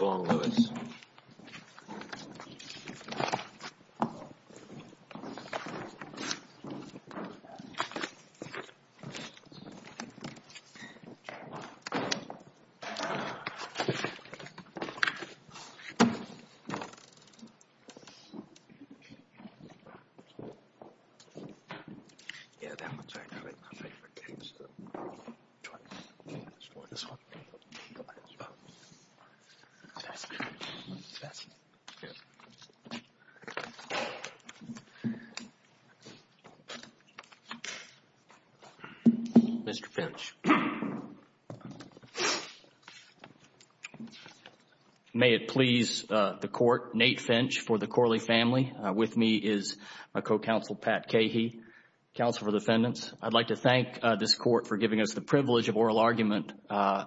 Long-Lewis Mr. Finch. May it please the Court, Nate Finch for the Corley family. With me is my co-counsel Pat Cahey, Counsel for Defendants. I'd like to thank this Court for giving us the privilege of oral argument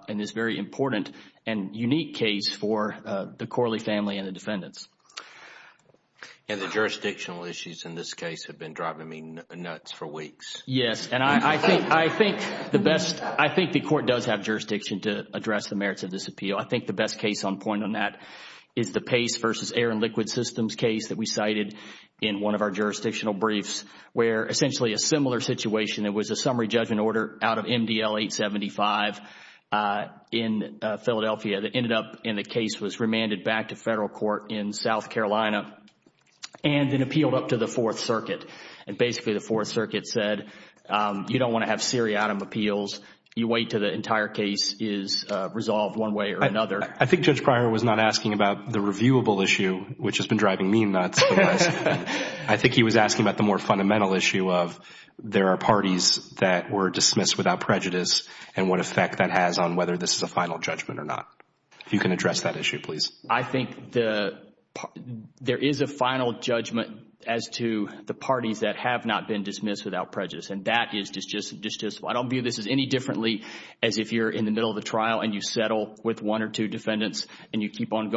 in this very important and unique case for the Corley family and the defendants. And the jurisdictional issues in this case have been driving me nuts for weeks. Yes, and I think the best – I think the Court does have jurisdiction to address the merits of this appeal. I think the best case on point on that is the Pace v. Air and Liquid Systems case that we cited in one of our jurisdictional briefs where essentially a similar situation It was a summary judgment order out of MDL 875 in Philadelphia that ended up in the case was remanded back to federal court in South Carolina and then appealed up to the Fourth Circuit. And basically the Fourth Circuit said, you don't want to have seriatim appeals. You wait until the entire case is resolved one way or another. I think Judge Pryor was not asking about the reviewable issue, which has been driving me nuts. I think he was asking about the more fundamental issue of there are parties that were dismissed without prejudice and what effect that has on whether this is a final judgment or not. If you can address that issue, please. I think the – there is a final judgment as to the parties that have not been dismissed without prejudice and that is just – I don't view this as any differently as if you're in the middle of the trial and you settle with one or two defendants and you keep on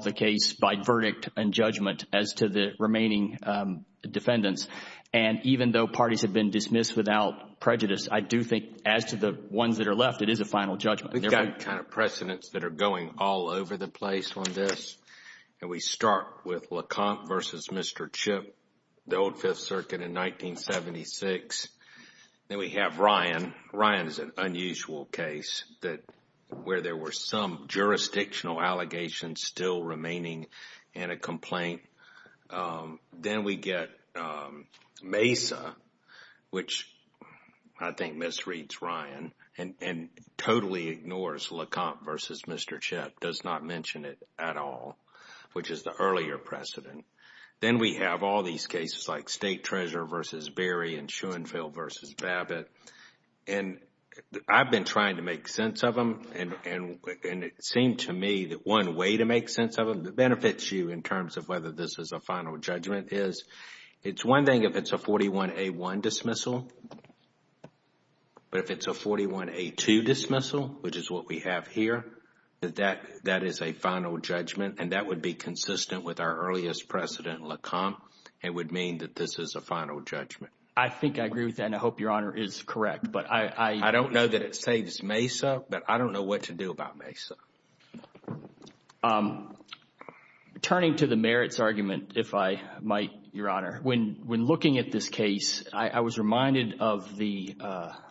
the case by verdict and judgment as to the remaining defendants. And even though parties have been dismissed without prejudice, I do think as to the ones that are left, it is a final judgment. We've got kind of precedents that are going all over the place on this. And we start with Lecomte versus Mr. Chipp, the old Fifth Circuit in 1976. Then we have Ryan. Ryan is an unusual case that – where there were some jurisdictional allegations still remaining in a complaint. Then we get Mesa, which I think misreads Ryan and totally ignores Lecomte versus Mr. Chipp, does not mention it at all, which is the earlier precedent. Then we have all these cases like State Treasurer versus Berry and Schoenfeld versus Babbitt. And I've been trying to make sense of them and it seemed to me that one way to make sense of them that benefits you in terms of whether this is a final judgment is, it's one thing if it's a 41A1 dismissal, but if it's a 41A2 dismissal, which is what we have here, that is a final judgment and that would be consistent with our earliest precedent, Lecomte. It would mean that this is a final judgment. I think I agree with that and I hope Your Honor is correct, but I... I don't know that it saves Mesa, but I don't know what to do about Mesa. Turning to the merits argument, if I might, Your Honor. When looking at this case, I was reminded of the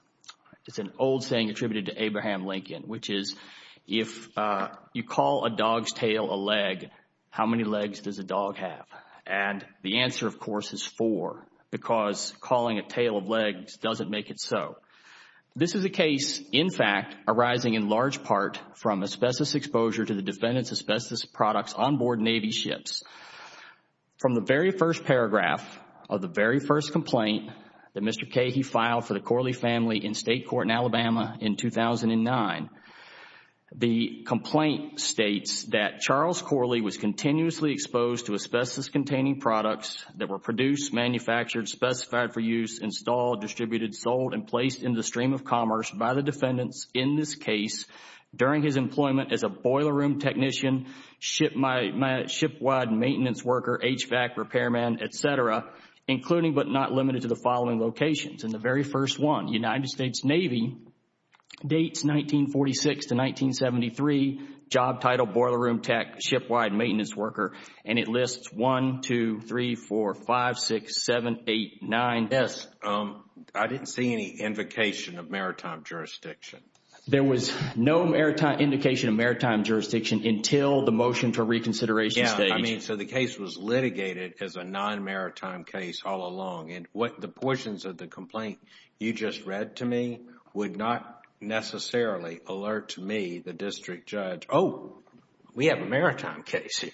– it's an old saying attributed to Abraham Lincoln, which is, if you call a dog's tail a leg, how many legs does a dog have? And the answer, of course, is four because calling a tail of legs doesn't make it so. This is a case, in fact, arising in large part from asbestos exposure to the defendant's asbestos products onboard Navy ships. From the very first paragraph of the very first complaint that Mr. Cahey filed for the Corley family in state court in Alabama in 2009, the complaint states that Charles Corley was continuously exposed to asbestos-containing products that were produced, manufactured, specified for use, installed, distributed, sold, and placed in the stream of commerce by the defendants in this case during his employment as a boiler room technician, shipwide maintenance worker, HVAC repairman, et cetera, including but not limited to the United States Navy, dates 1946 to 1973, job title, boiler room tech, shipwide maintenance worker, and it lists 1, 2, 3, 4, 5, 6, 7, 8, 9. Yes, I didn't see any indication of maritime jurisdiction. There was no indication of maritime jurisdiction until the motion for reconsideration stage. Yeah, I mean, so the case was litigated as a non-maritime case all along. The portions of the complaint you just read to me would not necessarily alert to me, the district judge, oh, we have a maritime case here.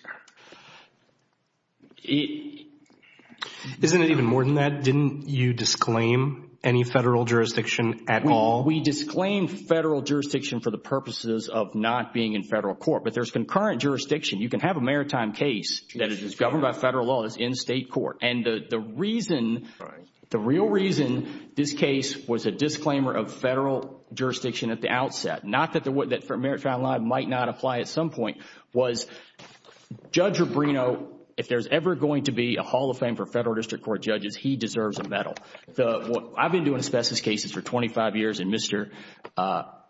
Isn't it even more than that? Didn't you disclaim any federal jurisdiction at all? We disclaimed federal jurisdiction for the purposes of not being in federal court, but there's concurrent jurisdiction. You can have a maritime case that is governed by federal law that's in state court. And the reason, the real reason this case was a disclaimer of federal jurisdiction at the outset, not that maritime law might not apply at some point, was Judge Rubino, if there's ever going to be a Hall of Fame for federal district court judges, he deserves a medal. I've been doing asbestos cases for 25 years and Mr.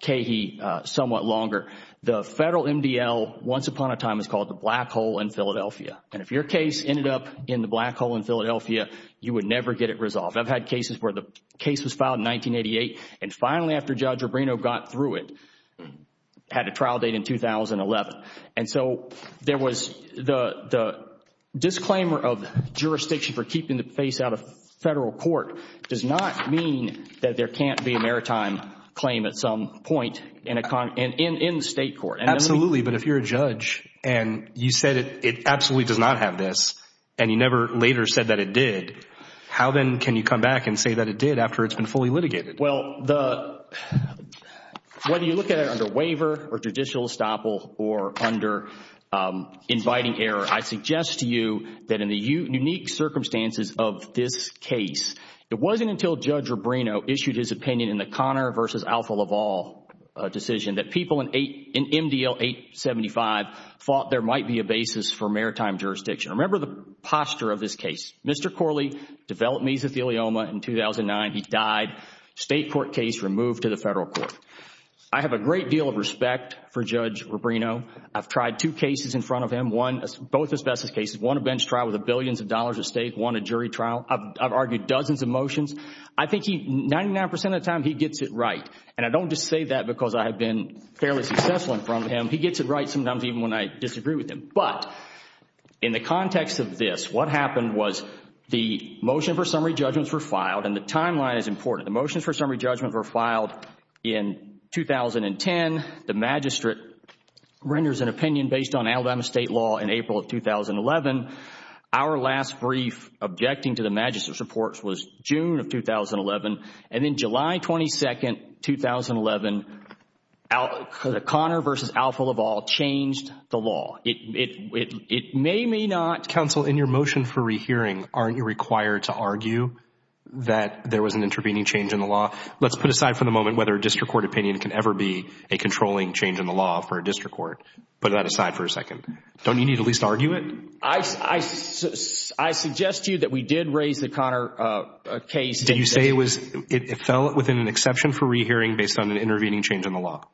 Cahey somewhat longer. The federal MDL, once upon a time, was called the black hole in Philadelphia. And if your case ended up in the black hole in Philadelphia, you would never get it resolved. I've had cases where the case was filed in 1988 and finally after Judge Rubino got through it, had a trial date in 2011. And so there was the disclaimer of jurisdiction for keeping the face out of federal court does not mean that there can't be a maritime claim at some point in state court. Absolutely. But if you're a judge and you said it absolutely does not have this and you never later said that it did, how then can you come back and say that it did after it's been fully litigated? Well, whether you look at it under waiver or judicial estoppel or under inviting error, I suggest to you that in the unique circumstances of this case, it wasn't until Judge Rubino issued his opinion in the Connor v. Alfa Laval decision that people in MDL 875 thought there might be a basis for maritime jurisdiction. Remember the posture of this case. Mr. Corley developed mesothelioma in 2009. He died. State court case removed to the federal court. I have a great deal of respect for Judge Rubino. I've tried two cases in front of him, both asbestos cases. One, a bench trial with billions of dollars at stake. One, a jury trial. I've argued dozens of motions. I think he, 99% of the time, he gets it right. And I don't just say that because I have been fairly successful in front of him. He gets it right sometimes even when I disagree with him. But in the context of this, what happened was the motion for summary judgments were filed and the timeline is important. The motions for summary judgments were filed in 2010. The magistrate renders an opinion based on Alabama state law in April of 2011. Our last brief objecting to the magistrate's report was June of 2011. And then July 22, 2011, Conor v. Alpha Laval changed the law. It may, may not. Counsel, in your motion for rehearing, aren't you required to argue that there was an intervening change in the law? Let's put aside for the moment whether a district court opinion can ever be a controlling change in the law for a district court. Put that aside for a second. Don't you need to at least argue it? I, I, I suggest to you that we did raise the Conor case. Did you say it was, it fell within an exception for rehearing based on an intervening change in the law?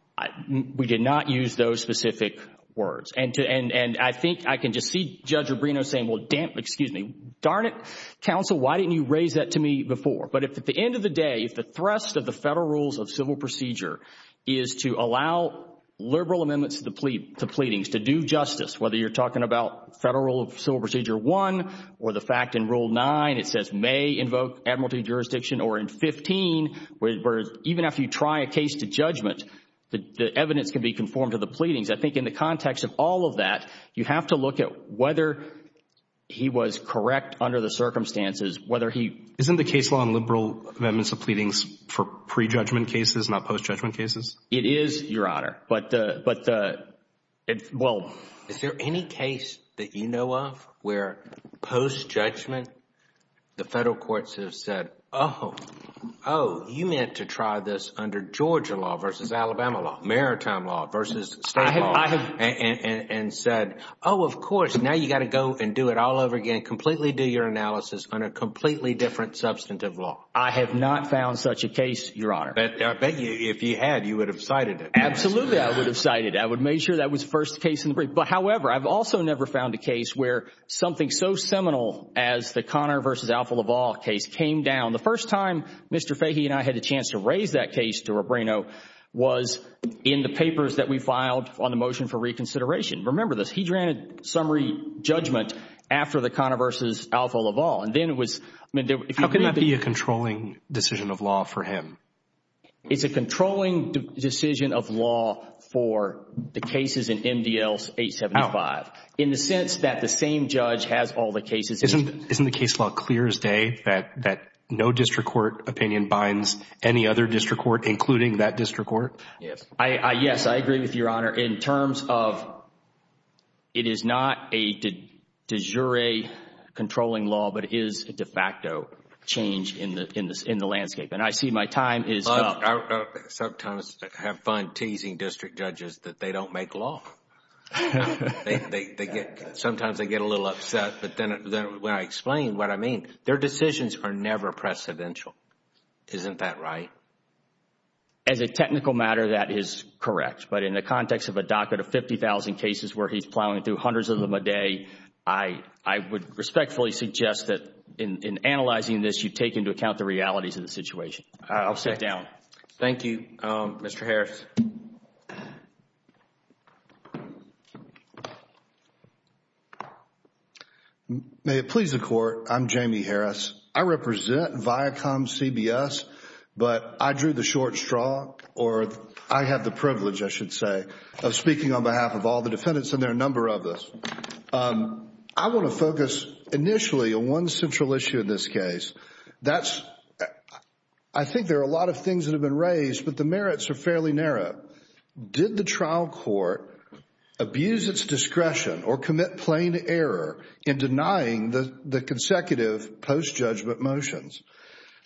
We did not use those specific words. And to, and, and I think I can just see Judge Rubino saying, well damn, excuse me. Darn it, counsel, why didn't you raise that to me before? But if at the end of the day, if the thrust of the federal rules of civil procedure is to allow liberal amendments to plead, to pleadings, to do justice, whether you're talking about federal civil procedure one or the fact in rule nine, it says may invoke admiralty jurisdiction or in 15, where even after you try a case to judgment, the evidence can be conformed to the pleadings. I think in the context of all of that, you have to look at whether he was correct under the circumstances, whether he. Isn't the case law on liberal amendments to pleadings for pre-judgment cases, not post-judgment cases? It is, Your Honor. But, but, well. Is there any case that you know of where post-judgment, the federal courts have said, oh, oh, you meant to try this under Georgia law versus Alabama law, maritime law versus state law, and said, oh, of course, now you got to go and do it all over again, completely do your analysis on a completely different substantive law. I have not found such a case, Your Honor. But I bet you, if you had, you would have cited it. Absolutely, I would have cited it. I would have made sure that was the first case in the brief. But, however, I've also never found a case where something so seminal as the Conner versus Alfa Laval case came down. The first time Mr. Fahey and I had a chance to raise that case to Robrino was in the papers that we filed on the motion for reconsideration. Remember this. He granted summary judgment after the Conner versus Alfa Laval. And then it was, I mean, there were. How can that be a controlling decision of law for him? It's a controlling decision of law for the cases in MDL 875, in the sense that the same judge has all the cases. Isn't the case law clear as day that no district court opinion binds any other district court, including that district court? Yes, I agree with Your Honor. In terms of it is not a de jure controlling law, but it is a de facto change in the landscape. I see my time is up. I sometimes have fun teasing district judges that they don't make law. Sometimes they get a little upset. But then when I explain what I mean, their decisions are never precedential. Isn't that right? As a technical matter, that is correct. But in the context of a docket of 50,000 cases where he's plowing through hundreds of them a day, I would respectfully suggest that in analyzing this, you take into account the I'll sit down. Thank you, Mr. Harris. May it please the Court. I'm Jamie Harris. I represent ViacomCBS, but I drew the short straw, or I have the privilege, I should say, of speaking on behalf of all the defendants, and there are a number of us. I want to focus initially on one central issue in this case. That's... I think there are a lot of things that have been raised, but the merits are fairly narrow. Did the trial court abuse its discretion or commit plain error in denying the consecutive post-judgment motions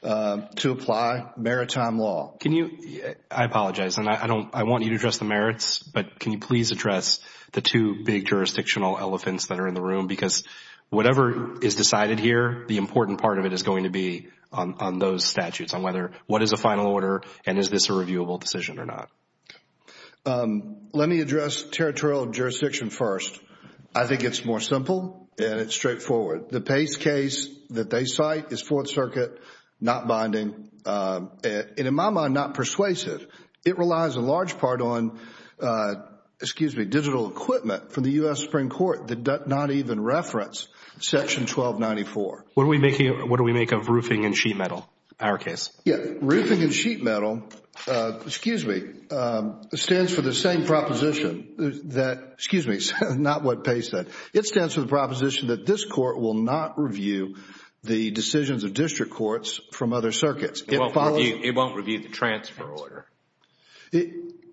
to apply maritime law? Can you... I apologize, and I want you to address the merits, but can you please address Whatever is decided here, the important part of it is going to be on those statutes, on whether what is a final order, and is this a reviewable decision or not? Let me address territorial jurisdiction first. I think it's more simple, and it's straightforward. The Pace case that they cite is Fourth Circuit, not binding, and in my mind, not persuasive. It relies in large part on, excuse me, digital equipment from the U.S. Supreme Court that does not even reference Section 1294. What do we make of roofing and sheet metal in our case? Yeah. Roofing and sheet metal, excuse me, stands for the same proposition that... excuse me, not what Pace said. It stands for the proposition that this court will not review the decisions of district courts from other circuits. It won't review the transfer order.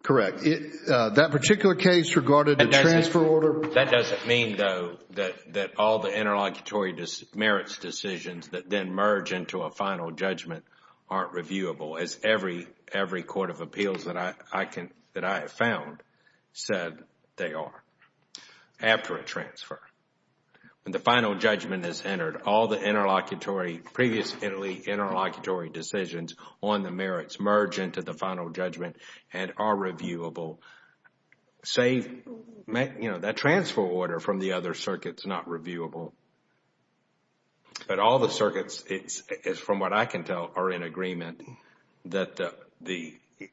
Correct. That particular case regarding the transfer order... That doesn't mean, though, that all the interlocutory merits decisions that then merge into a final judgment aren't reviewable, as every court of appeals that I have found said they are, after a transfer. When the final judgment is entered, all the interlocutory, previously interlocutory decisions on the merits merge into the final judgment and are reviewable, save that transfer order from the other circuits not reviewable. But all the circuits, from what I can tell, are in agreement that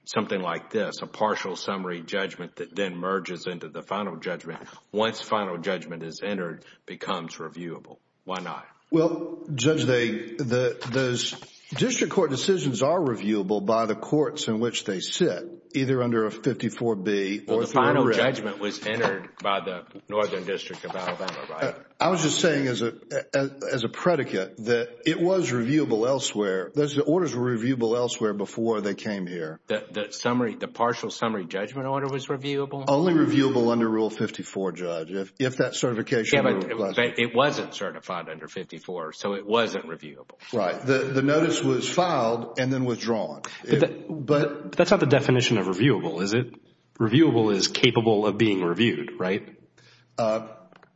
something like this, a partial summary judgment that then merges into the final judgment, once final judgment is entered, becomes reviewable. Why not? Well, Judge, those district court decisions are reviewable by the courts in which they sit, either under a 54B or through a writ. Well, the final judgment was entered by the Northern District of Alabama, right? I was just saying, as a predicate, that it was reviewable elsewhere. Those orders were reviewable elsewhere before they came here. The partial summary judgment order was reviewable? Only reviewable under Rule 54, Judge, if that certification... It wasn't certified under 54, so it wasn't reviewable. Right. The notice was filed and then withdrawn. That's not the definition of reviewable, is it? Reviewable is capable of being reviewed, right?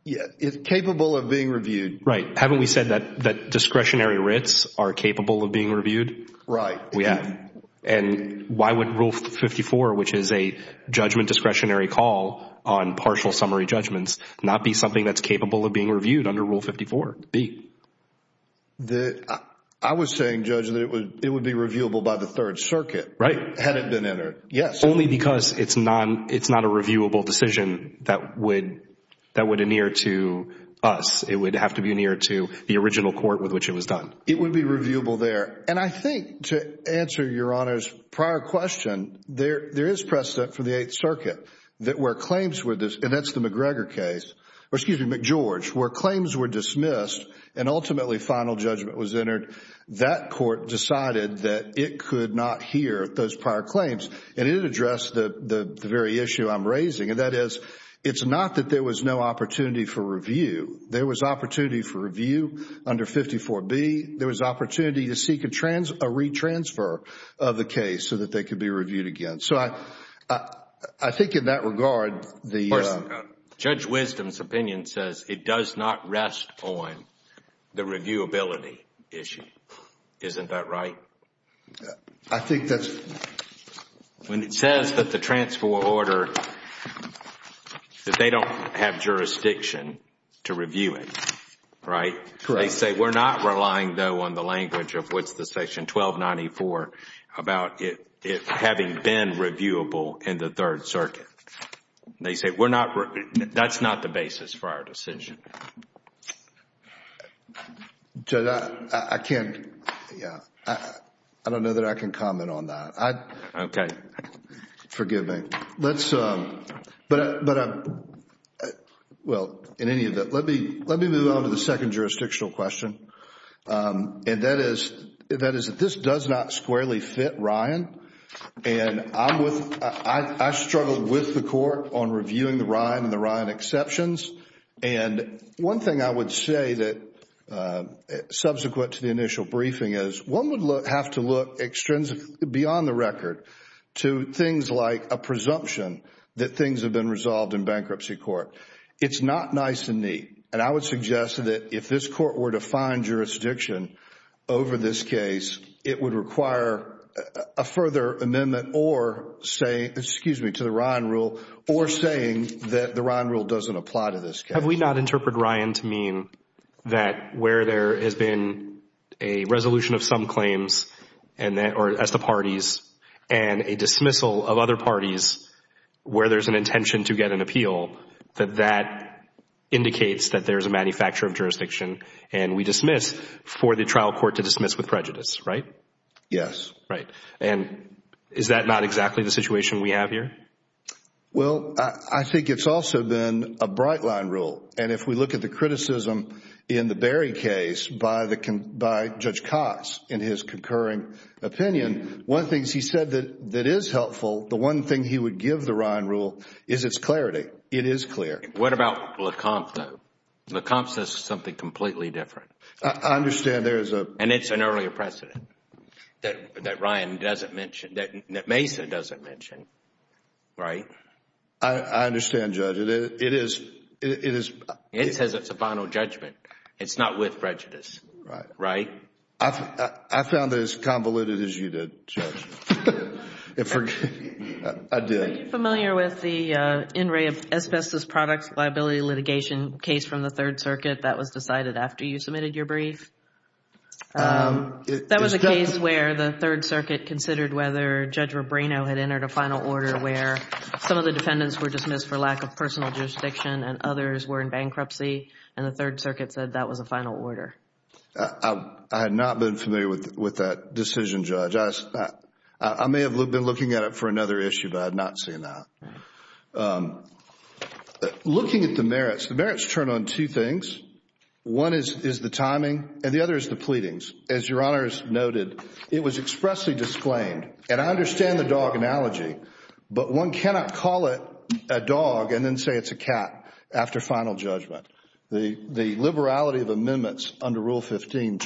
Yeah, it's capable of being reviewed. Right. Haven't we said that discretionary writs are capable of being reviewed? Right, we have. And why would Rule 54, which is a judgment discretionary call on partial summary judgments, not be something that's capable of being reviewed under Rule 54B? I was saying, Judge, that it would be reviewable by the Third Circuit. Right. Had it been entered. Yes. Only because it's not a reviewable decision that would adhere to us. It would have to be adhered to the original court with which it was done. It would be reviewable there. And I think, to answer Your Honor's prior question, there is precedent for the Eighth or, excuse me, McGeorge, where claims were dismissed and ultimately final judgment was entered. That court decided that it could not hear those prior claims. And it addressed the very issue I'm raising. And that is, it's not that there was no opportunity for review. There was opportunity for review under 54B. There was opportunity to seek a retransfer of the case so that they could be reviewed again. So I think in that regard, the... Wisdom's opinion says it does not rest on the reviewability issue. Isn't that right? I think that's... When it says that the transfer order, that they don't have jurisdiction to review it, right? Correct. They say we're not relying, though, on the language of what's the section 1294 about having been reviewable in the Third Circuit. They say we're not... That's not the basis for our decision. Judge, I can't... Yeah. I don't know that I can comment on that. Okay. Forgive me. Let's... But... Well, in any event, let me move on to the second jurisdictional question. And that is that this does not squarely fit Ryan. And I'm with... I struggled with the court on reviewing the Ryan and the Ryan exceptions. And one thing I would say that subsequent to the initial briefing is, one would have to look extrinsically, beyond the record, to things like a presumption that things have been resolved in bankruptcy court. It's not nice and neat. And I would suggest that if this court were to find jurisdiction over this case, it would require a further amendment or say... Excuse me, to the Ryan rule, or saying that the Ryan rule doesn't apply to this case. Have we not interpreted Ryan to mean that where there has been a resolution of some claims and that... or as the parties, and a dismissal of other parties where there's an intention to get an appeal, that that indicates that there's a manufacture of jurisdiction and we dismiss for the trial court to dismiss with prejudice, right? Yes. Right. And is that not exactly the situation we have here? Well, I think it's also been a bright line rule. And if we look at the criticism in the Berry case by Judge Cox in his concurring opinion, one of the things he said that is helpful, the one thing he would give the Ryan rule is its clarity. It is clear. What about Lecomte though? Lecomte says something completely different. I understand there is a... And it's an earlier precedent that Mason doesn't mention, right? I understand, Judge. It says it's a final judgment. It's not with prejudice, right? I found it as convoluted as you did, Judge. I did. Are you familiar with the in re of asbestos products liability litigation case from the Third Circuit that was decided after you submitted your brief? That was a case where the Third Circuit considered whether Judge Rubino had entered a final order where some of the defendants were dismissed for lack of personal jurisdiction and others were in bankruptcy and the Third Circuit said that was a final order. I had not been familiar with that decision, Judge. I may have been looking at it for another issue, but I had not seen that. Looking at the merits, the merits turn on two things. One is the timing and the other is the pleadings. As Your Honor has noted, it was expressly disclaimed, and I understand the dog analogy, but one cannot call it a dog and then say it's a cat after final judgment. The liberality of amendments under Rule 15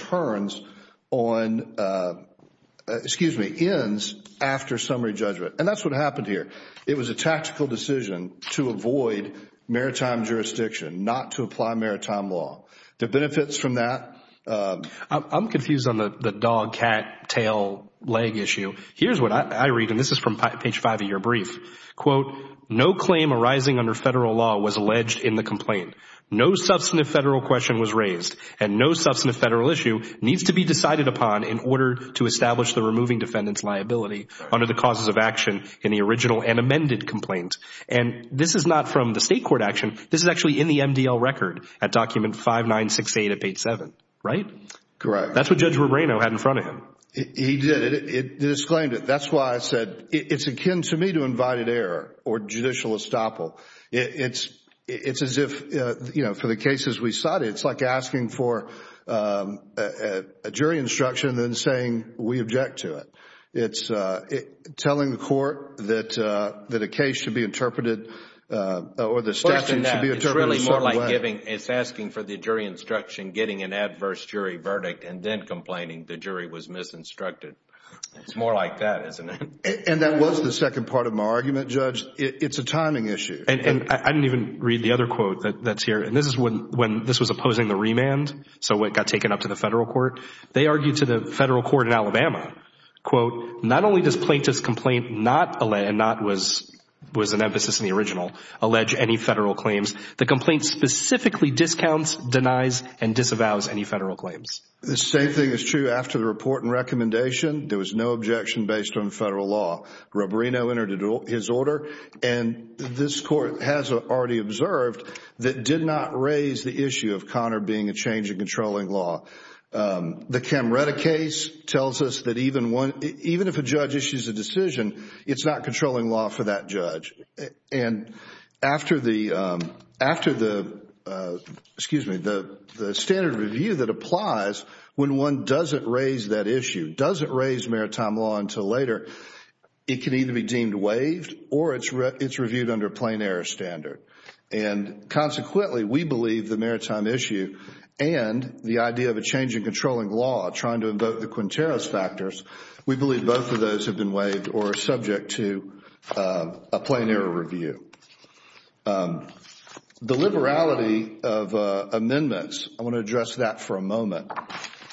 ends after summary judgment, and that's what happened here. It was a tactical decision to avoid maritime jurisdiction, not to apply maritime law. The benefits from that... I'm confused on the dog, cat, tail, leg issue. Here's what I read, and this is from page five of your brief. Quote, no claim arising under federal law was alleged in the complaint. No substantive federal question was raised, and no substantive federal issue needs to be decided upon in order to establish the removing defendant's liability under the causes of action in the original and amended complaint. And this is not from the state court action. This is actually in the MDL record at document 5968 of page seven, right? Correct. That's what Judge Rebrano had in front of him. He did it. It disclaimed it. That's why I said it's akin to me to invited error or judicial estoppel. It's as if, you know, for the cases we cited, it's like asking for a jury instruction and then saying we object to it. It's telling the court that a case should be interpreted or the statute should be interpreted a certain way. It's asking for the jury instruction, getting an adverse jury verdict, and then complaining the jury was misinstructed. It's more like that, isn't it? And that was the second part of my argument, Judge. It's a timing issue. And I didn't even read the other quote that's here. And this is when this was opposing the remand. So it got taken up to the federal court. They argued to the federal court in Alabama, quote, not only does plaintiff's complaint not, and not was an emphasis in the original, allege any federal claims. The complaint specifically discounts, denies, and disavows any federal claims. The same thing is true after the report and recommendation. There was no objection based on federal law. Rubarino entered his order. And this court has already observed that did not raise the issue of Connor being a change in controlling law. The Camretta case tells us that even if a judge issues a decision, it's not controlling law for that judge. And after the, excuse me, the standard of review that applies when one doesn't raise that issue, doesn't raise maritime law until later, it can either be deemed waived or it's reviewed under a plain error standard. And consequently, we believe the maritime issue and the idea of a change in controlling law, trying to invoke the Quinteros factors, we believe both of those have been waived or are subject to a plain error review. The liberality of amendments, I want to address that for a moment.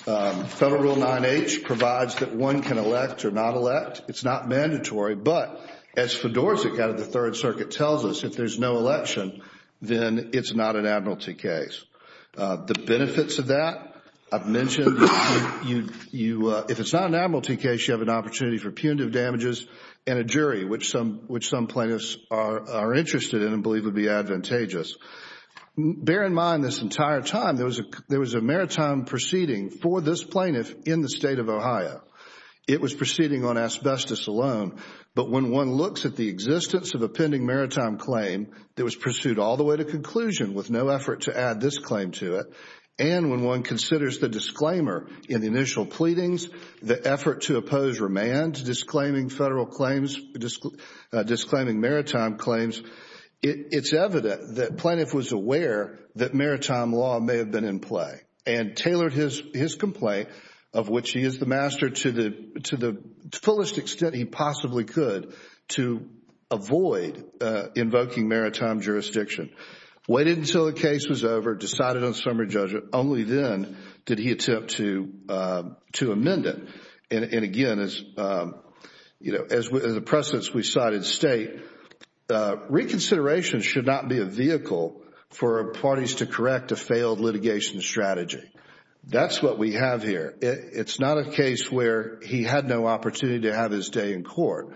Federal Rule 9H provides that one can elect or not elect. It's not mandatory. But as Fedorczyk out of the Third Circuit tells us, if there's no election, then it's not an admiralty case. The benefits of that, I've mentioned, if it's not an admiralty case, you have an opportunity for punitive damages and a jury, which some plaintiffs are interested in and believe would be advantageous. Bear in mind this entire time, there was a maritime proceeding for this plaintiff in the state of Ohio. It was proceeding on asbestos alone. But when one looks at the existence of a pending maritime claim that was pursued all the way to conclusion with no effort to add this claim to it, and when one considers the disclaimer in the initial pleadings, the effort to oppose remand disclaiming maritime claims, it's evident that plaintiff was aware that maritime law may have been in play and tailored his complaint of which he is the master to the fullest extent he possibly could to avoid invoking maritime jurisdiction. Waited until the case was over, decided on summary judgment. Only then did he attempt to amend it. And again, as the precedents we cited state, reconsideration should not be a vehicle for parties to correct a failed litigation strategy. That's what we have here. It's not a case where he had no opportunity to have his day in court.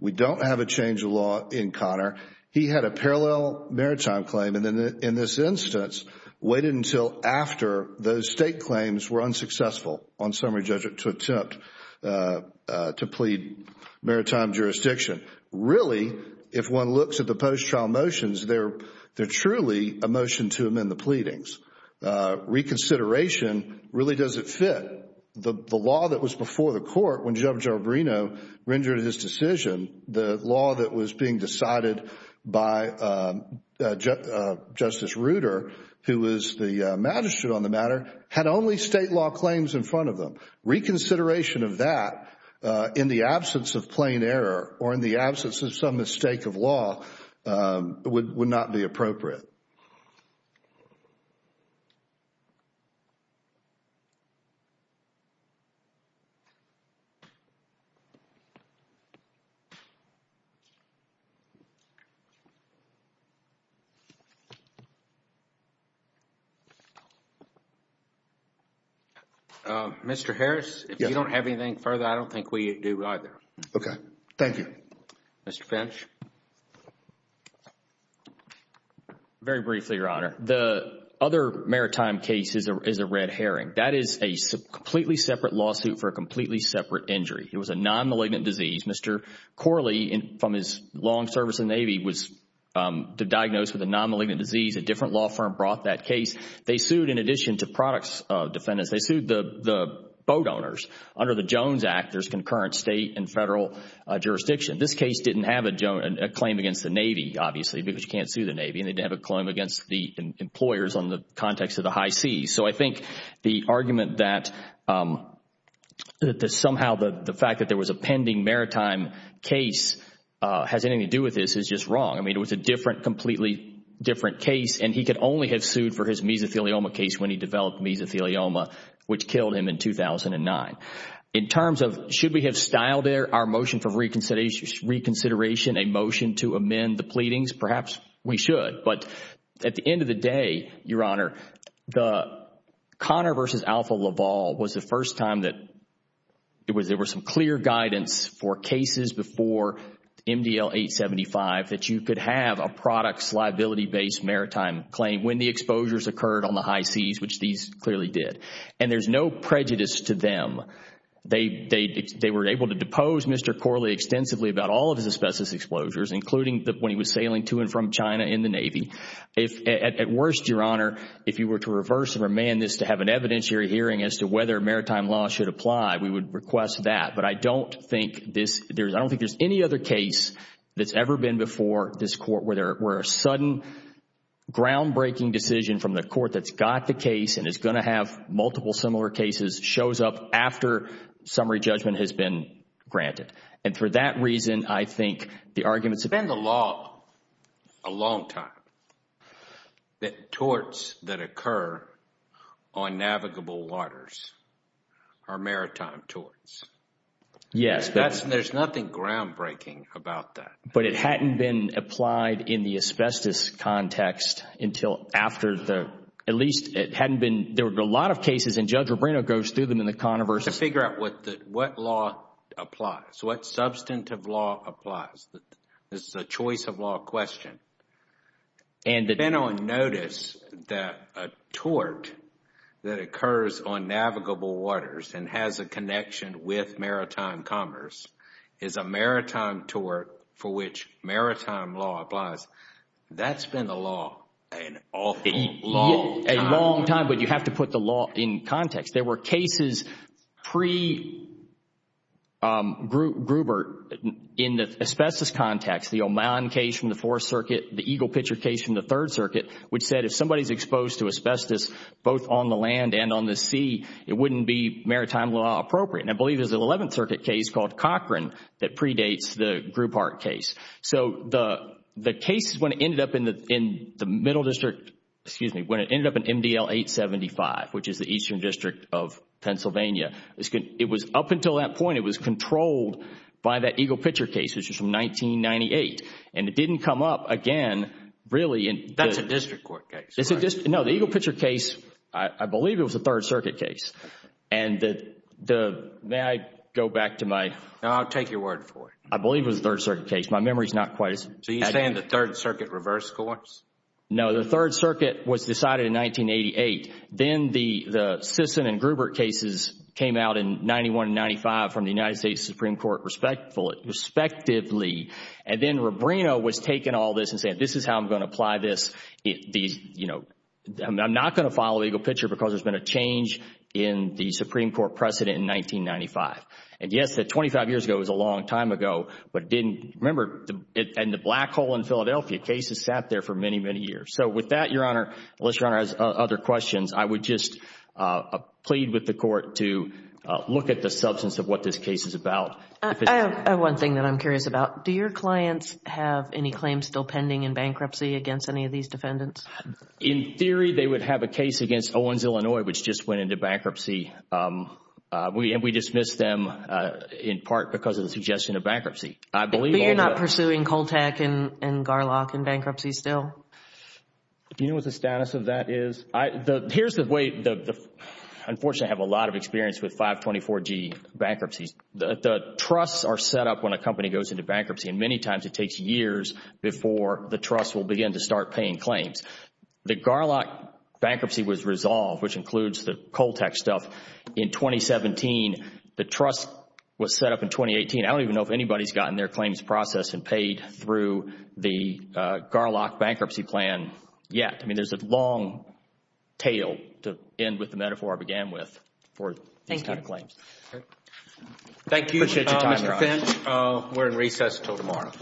We don't have a change of law in Connor. He had a parallel maritime claim. And in this instance, waited until after those state claims were unsuccessful on summary judgment to attempt to plead maritime jurisdiction. Really, if one looks at the post-trial motions, they're truly a motion to amend the pleadings. Reconsideration really doesn't fit. The law that was before the court when Judge Albrino rendered his decision, the law that was being decided by Justice Ruder, who was the magistrate on the matter, had only state law claims in front of them. Reconsideration of that in the absence of plain error or in the absence of some mistake of law would not be appropriate. Mr. Harris, if you don't have anything further, I don't think we do either. Okay. Thank you. Mr. Finch. Very briefly, Your Honor. The other maritime case is a red herring. That is a completely separate lawsuit for a completely separate injury. It was a nonmalignant disease. Mr. Corley, from his long service in the Navy, was diagnosed with a nonmalignant disease. A different law firm brought that case. They sued in addition to products defendants. They sued the boat owners. Under the Jones Act, there's concurrent state and federal jurisdiction. This case didn't have a claim against the Navy, obviously, because you can't sue the Navy, and they didn't have a claim against the employers on the context of the high seas. I think the argument that somehow the fact that there was a pending maritime case has anything to do with this is just wrong. I mean, it was a completely different case, and he could only have sued for his mesothelioma case when he developed mesothelioma, which killed him in 2009. In terms of should we have styled our motion for reconsideration a motion to amend the pleadings, perhaps we should. At the end of the day, Your Honor, the Connor v. Alpha Laval was the first time that there was some clear guidance for cases before MDL 875 that you could have a products liability based maritime claim when the exposures occurred on the high seas, which these clearly did. There's no prejudice to them. They were able to depose Mr. Corley extensively about all of his asbestos exposures, including when he was sailing to and from China in the Navy. At worst, Your Honor, if you were to reverse and remand this to have an evidentiary hearing as to whether maritime law should apply, we would request that. But I don't think there's any other case that's ever been before this Court where a sudden groundbreaking decision from the Court that's got the case and is going to have multiple similar cases shows up after summary judgment has been granted. And for that reason, I think the arguments have been... It's been the law a long time that torts that occur on navigable waters are maritime torts. Yes. There's nothing groundbreaking about that. But it hadn't been applied in the asbestos context until after the... at least it hadn't been... there were a lot of cases and Judge Rubino goes through them in the Connors... What law applies? What substantive law applies? This is a choice of law question. And... Then on notice that a tort that occurs on navigable waters and has a connection with maritime commerce is a maritime tort for which maritime law applies. That's been the law an awful long time. A long time, but you have to put the law in context. There were cases pre-Grubert in the asbestos context. The Oman case from the Fourth Circuit, the Eagle Pitcher case from the Third Circuit which said if somebody's exposed to asbestos both on the land and on the sea, it wouldn't be maritime law appropriate. And I believe there's an Eleventh Circuit case called Cochran that predates the Grubart case. So the cases when it ended up in the Middle District... excuse me, when it ended up in MDL 875 which is the Eastern District of Pennsylvania, it was up until that point it was controlled by that Eagle Pitcher case which was from 1998. And it didn't come up again really in... That's a District Court case, right? No, the Eagle Pitcher case, I believe it was a Third Circuit case. And the... may I go back to my... No, I'll take your word for it. I believe it was a Third Circuit case. My memory is not quite as... So you're saying the Third Circuit reverse courts? No, the Third Circuit was decided in 1988. Then the Sisson and Grubart cases came out in 1991 and 1995 from the United States Supreme Court respectively. And then Rubrino was taking all this and saying, this is how I'm going to apply this. I'm not going to follow Eagle Pitcher because there's been a change in the Supreme Court precedent in 1995. And yes, 25 years ago was a long time ago, but it didn't... remember, in the black hole in Philadelphia, cases sat there for many, many years. So with that, Your Honor, unless Your Honor has other questions, I would just plead with the Court to look at the substance of what this case is about. I have one thing that I'm curious about. Do your clients have any claims still pending in bankruptcy against any of these defendants? In theory, they would have a case against Owens, Illinois, which just went into bankruptcy. And we dismissed them in part because of the suggestion of bankruptcy. But you're not pursuing Coltec and Garlock in bankruptcy still? You know what the status of that is? Here's the way... unfortunately, I have a lot of experience with 524G bankruptcies. The trusts are set up when a company goes into bankruptcy, and many times it takes years before the trust will begin to start paying claims. The Garlock bankruptcy was resolved, which includes the Coltec stuff, in 2017. The trust was set up in 2018. I don't even know if anybody's gotten their claims processed and paid through the Garlock bankruptcy plan yet. I mean, there's a long tail, to end with the metaphor I began with, for these kind of claims. Thank you. Thank you, Mr. Finch. We're in recess until tomorrow.